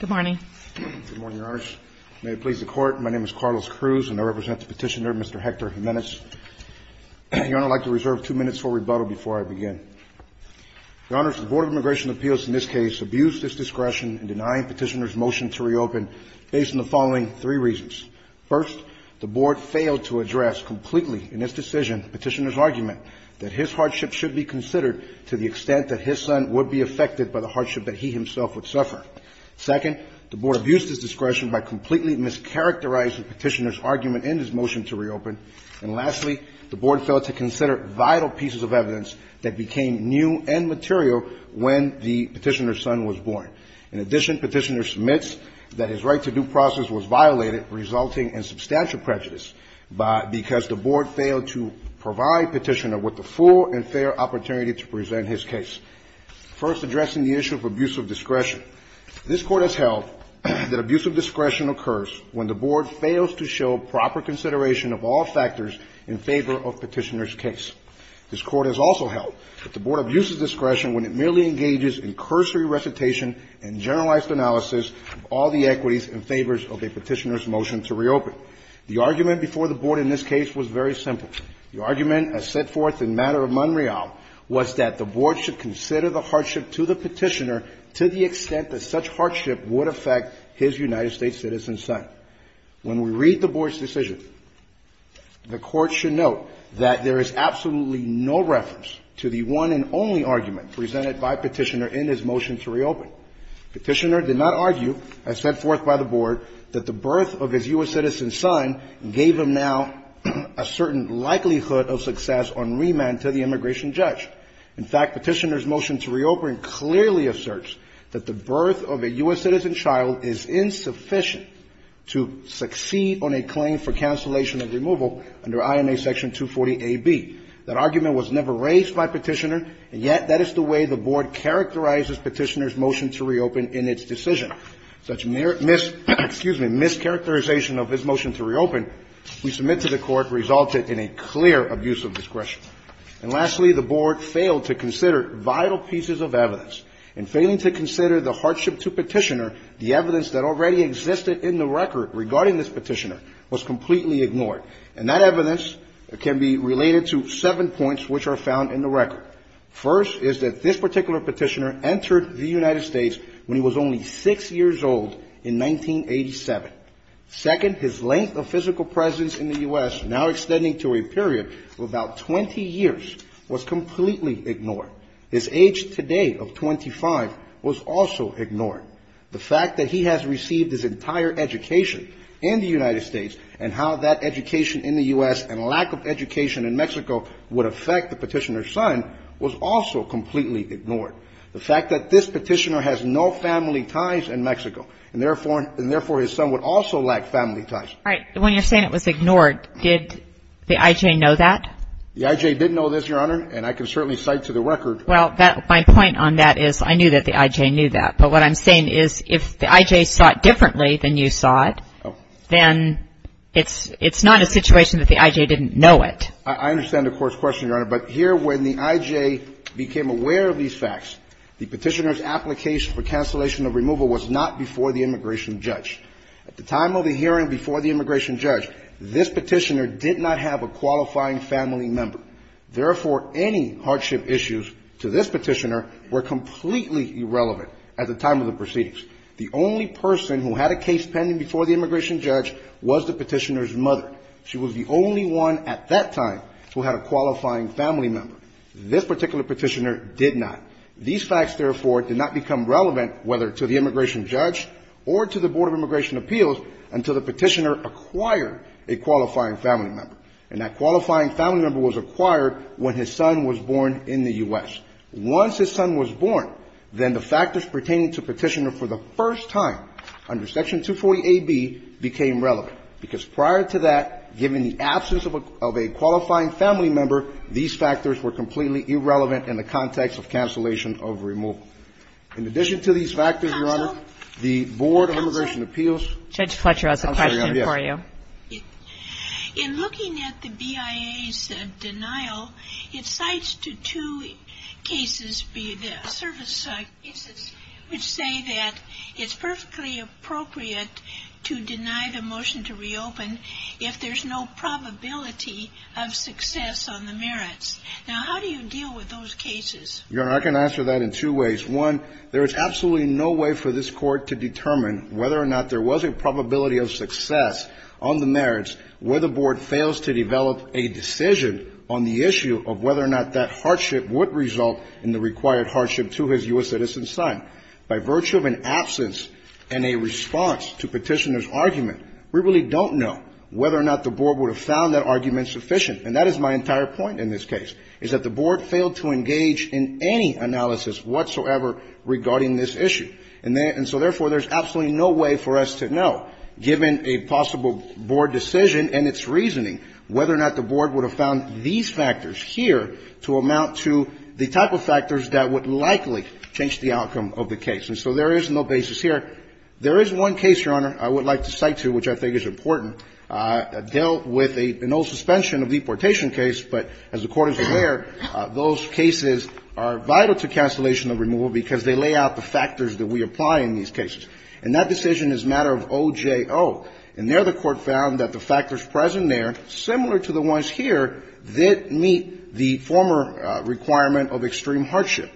Good morning. Good morning, Your Honors. May it please the Court, my name is Carlos Cruz and I represent the petitioner, Mr. Hector Jimenez. Your Honor, I'd like to reserve two minutes for rebuttal before I begin. Your Honors, the Board of Immigration Appeals in this case abused its discretion in denying petitioner's motion to reopen based on the following three reasons. First, the Board failed to address completely in its decision petitioner's argument that his hardship should be considered to the extent that his son would be affected by the hardship that he himself would suffer. Second, the Board abused its discretion by completely mischaracterizing petitioner's argument in his motion to reopen. And lastly, the Board failed to consider vital pieces of evidence that became new and material when the petitioner's son was born. In addition, petitioner submits that his right to due process was violated, resulting in substantial prejudice because the Board failed to provide petitioner with the full and fair opportunity to present his case. First, addressing the issue of abuse of discretion. This Court has held that abuse of discretion occurs when the Board fails to show proper consideration of all factors in favor of petitioner's case. This Court has also held that the Board abuses discretion when it merely engages in cursory recitation and generalized analysis of all the equities in favor of a petitioner's motion to reopen. The argument before the Board in this case was very simple. The argument as set forth in Matter of Monreal was that the Board should consider the hardship to the petitioner to the extent that such hardship would affect his United States citizen son. When we read the Board's decision, the Court should note that there is absolutely no reference to the one and only argument presented by petitioner in his motion to reopen. Petitioner did not argue, as set forth by the Board, that the birth of his U.S. citizen son gave him now a certain likelihood of success on remand to the immigration judge. In fact, petitioner's motion to reopen clearly asserts that the birth of a U.S. citizen child is insufficient to succeed on a claim for cancellation of removal under INA Section 240AB. That argument was never raised by petitioner, and yet that is the way the Board characterizes petitioner's motion to reopen in its decision. Such mischaracterization of his motion to reopen, we submit to the Court, resulted in a clear abuse of discretion. And lastly, the Board failed to consider vital pieces of evidence. In failing to consider the hardship to petitioner, the evidence that already existed in the record regarding this petitioner was completely ignored. And that evidence can be related to seven points which are found in the record. First is that this particular petitioner entered the United States when he was only 6 years old in 1987. Second, his length of physical presence in the U.S., now extending to a period of about 20 years, was completely ignored. His age today of 25 was also ignored. The fact that he has received his entire education in the United States and how that education in the U.S. and lack of education in Mexico would affect the petitioner's son was also completely ignored. The fact that this petitioner has no family ties in Mexico, and therefore his son would also lack family ties. All right. When you're saying it was ignored, did the I.J. know that? The I.J. did know this, Your Honor, and I can certainly cite to the record. Well, my point on that is I knew that the I.J. knew that. But what I'm saying is if the I.J. saw it differently than you saw it, then it's not a situation that the I.J. didn't know it. I understand the Court's question, Your Honor, but here when the I.J. became aware of these facts, the petitioner's application for cancellation of removal was not before the immigration judge. At the time of the hearing before the immigration judge, this petitioner did not have a qualifying family member. Therefore, any hardship issues to this petitioner were completely irrelevant at the time of the proceedings. The only person who had a case pending before the immigration judge was the petitioner's mother. She was the only one at that time who had a qualifying family member. This particular petitioner did not. These facts, therefore, did not become relevant whether to the immigration judge or to the Board of Immigration Appeals until the petitioner acquired a qualifying family member. And that qualifying family member was acquired when his son was born in the U.S. Once his son was born, then the factors pertaining to the petitioner for the first time under Section 240a)(b became relevant. Because prior to that, given the absence of a qualifying family member, these factors were completely irrelevant in the context of cancellation of removal. In addition to these factors, Your Honor, the Board of Immigration Appeals. Judge Fletcher, I have a question for you. In looking at the BIA's denial, it cites to two cases, the service side cases, which say that it's perfectly appropriate to deny the motion to reopen if there's no probability of success on the merits. Now, how do you deal with those cases? Your Honor, I can answer that in two ways. One, there is absolutely no way for this Court to determine whether or not there was a probability of success on the merits where the Board fails to develop a decision on the issue of whether or not that hardship would result in the required hardship to his U.S. citizen son. By virtue of an absence and a response to petitioner's argument, we really don't know whether or not the Board would have found that argument sufficient. And that is my entire point in this case, is that the Board failed to engage in any analysis whatsoever regarding this issue. And so, therefore, there's absolutely no way for us to know, given a possible Board decision and its reasoning, whether or not the Board would have found these factors here to amount to the type of factors that would likely change the outcome of the case. And so there is no basis here. There is one case, Your Honor, I would like to cite to, which I think is important, dealt with an old suspension of deportation case. But as the Court is aware, those cases are vital to cancellation of removal because they lay out the factors that we apply in these cases. And that decision is a matter of OJO. And there the Court found that the factors present there, similar to the ones here, did meet the former requirement of extreme hardship.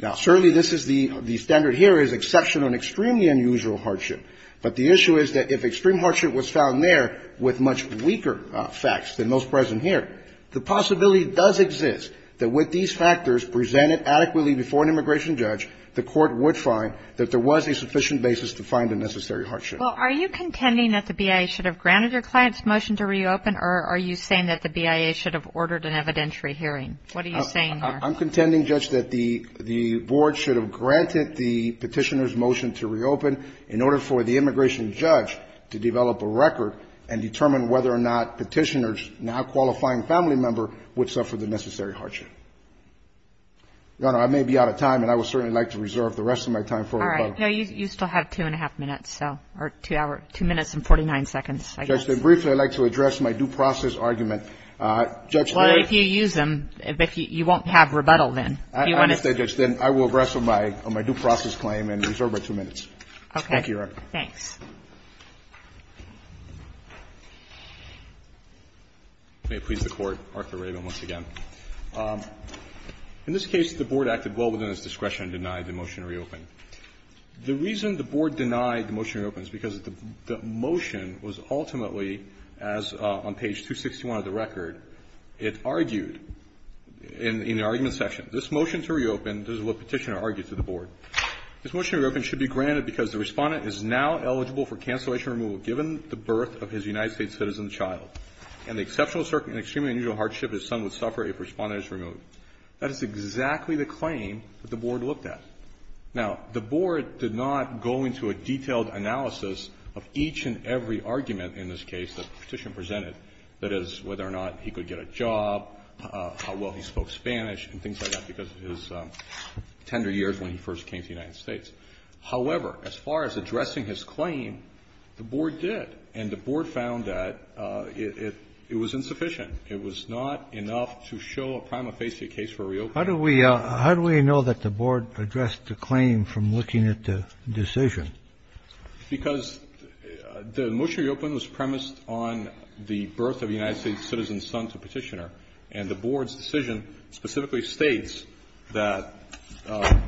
Now, certainly this is the standard here is exception on extremely unusual hardship. But the issue is that if extreme hardship was found there with much weaker facts than those present here, the possibility does exist that with these factors presented adequately before an immigration judge, the Court would find that there was a sufficient basis to find the necessary hardship. Well, are you contending that the BIA should have granted your client's motion to reopen, or are you saying that the BIA should have ordered an evidentiary hearing? What are you saying here? I'm contending, Judge, that the Board should have granted the Petitioner's motion to reopen in order for the immigration judge to develop a record and determine whether or not Petitioner's now-qualifying family member would suffer the necessary hardship. Your Honor, I may be out of time, and I would certainly like to reserve the rest of my time for rebuttal. All right. No, you still have two and a half minutes, so or two minutes and 49 seconds, I guess. Judge, then briefly I'd like to address my due process argument. Well, if you use them, you won't have rebuttal then. I understand, Judge. Then I will address my due process claim and reserve my two minutes. Okay. Thank you, Your Honor. Thanks. May it please the Court. Arthur Rabin once again. In this case, the Board acted well within its discretion to deny the motion to reopen. The reason the Board denied the motion to reopen is because the motion was ultimately, as on page 261 of the record, it argued in the argument section, this motion to reopen, this is what Petitioner argued to the Board, this motion to reopen should be granted because the respondent is now eligible for cancellation removal given the birth of his United States citizen child, and the exceptional and extremely unusual hardship his son would suffer if the respondent is removed. That is exactly the claim that the Board looked at. Now, the Board did not go into a detailed analysis of each and every argument in this case that Petitioner presented, that is, whether or not he could get a job, how well he spoke Spanish and things like that because of his tender years when he first came to the United States. However, as far as addressing his claim, the Board did. And the Board found that it was insufficient. It was not enough to show a prima facie case for reopening. Kennedy. How do we know that the Board addressed the claim from looking at the decision? Because the motion to reopen was premised on the birth of a United States citizen's son to Petitioner, and the Board's decision specifically states that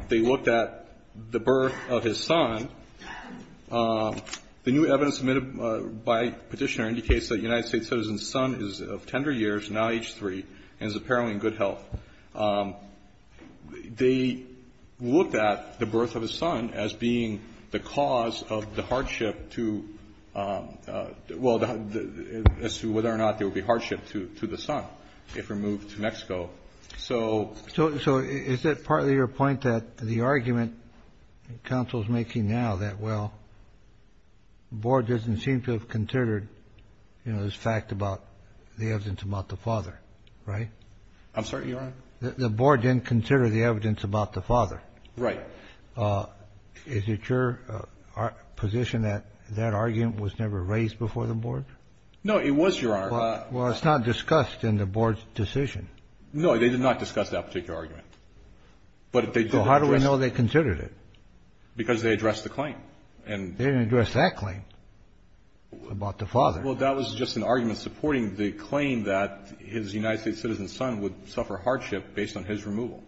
they looked at the birth of his son. The new evidence submitted by Petitioner indicates that a United States citizen's son is of tender years, now age three, and is apparently in good health. They looked at the birth of his son as being the cause of the hardship to, well, as to whether or not there would be hardship to the son if removed to Mexico. So is that partly your point, that the argument counsel is making now that, well, the Board doesn't seem to have considered, you know, this fact about the evidence about the father, right? I'm sorry, Your Honor. The Board didn't consider the evidence about the father. Right. Is it your position that that argument was never raised before the Board? No, it was, Your Honor. Well, it's not discussed in the Board's decision. No, they did not discuss that particular argument. So how do we know they considered it? Because they addressed the claim. They didn't address that claim about the father. Well, that was just an argument supporting the claim that his United States citizen's son would suffer hardship based on his removal.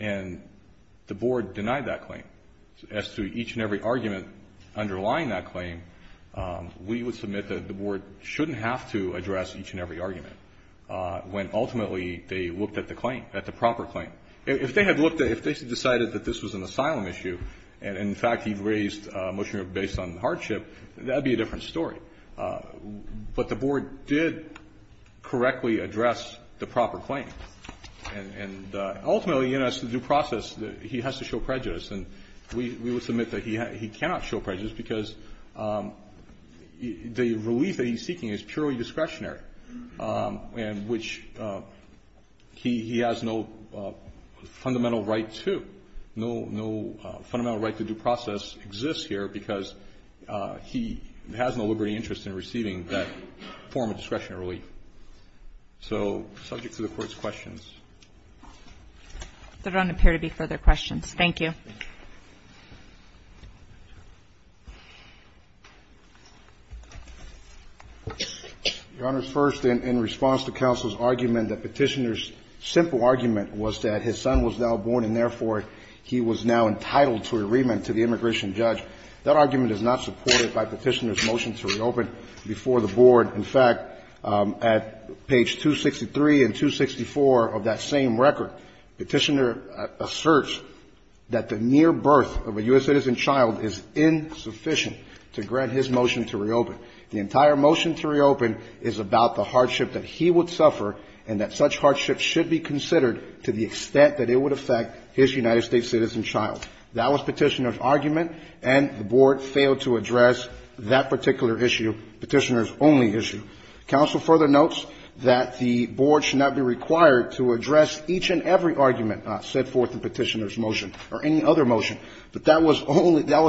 And the Board denied that claim. As to each and every argument underlying that claim, we would submit that the Board shouldn't have to address each and every argument, when ultimately they looked at the claim, at the proper claim. If they had looked at it, if they had decided that this was an asylum issue and, in fact, he raised a motion based on hardship, that would be a different story. But the Board did correctly address the proper claim. And ultimately, you know, as to the due process, he has to show prejudice. And we would submit that he cannot show prejudice because the relief that he's seeking is purely discretionary, and which he has no fundamental right to. No fundamental right to due process exists here because he has no liberty and interest in receiving that form of discretionary relief. So subject to the Court's questions. There don't appear to be further questions. Thank you. Your Honor, first, in response to counsel's argument that Petitioner's simple argument was that his son was now born and, therefore, he was now entitled to a remand to the immigration judge, that argument is not supported by Petitioner's motion to reopen before the Board. In fact, at page 263 and 264 of that same record, Petitioner asserts that there is no evidence that the near birth of a U.S. citizen child is insufficient to grant his motion to reopen. The entire motion to reopen is about the hardship that he would suffer and that such hardship should be considered to the extent that it would affect his United States citizen child. That was Petitioner's argument, and the Board failed to address that particular issue, Petitioner's only issue. Counsel further notes that the Board should not be required to address each and every other motion, but that was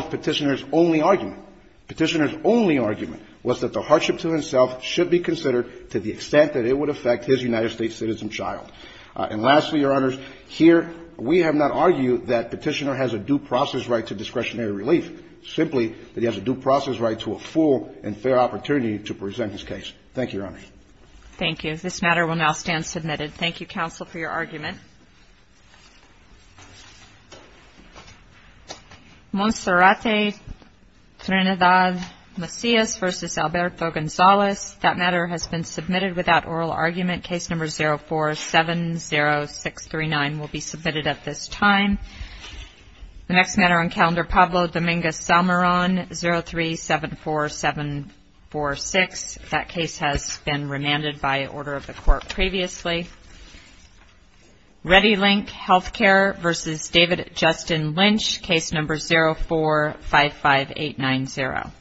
Petitioner's only argument. Petitioner's only argument was that the hardship to himself should be considered to the extent that it would affect his United States citizen child. And lastly, Your Honor, here we have not argued that Petitioner has a due process right to discretionary relief, simply that he has a due process right to a full and fair opportunity to present his case. Thank you, Your Honor. Thank you. This matter will now stand submitted. Thank you, counsel, for your argument. Monserrate Trinidad Macias v. Alberto Gonzalez. That matter has been submitted without oral argument. Case number 0470639 will be submitted at this time. The next matter on calendar, Pablo Dominguez-Salmaron, 0374746. That case has been remanded by order of the Court previously. Ready Link Healthcare v. David Justin Lynch, case number 0455890.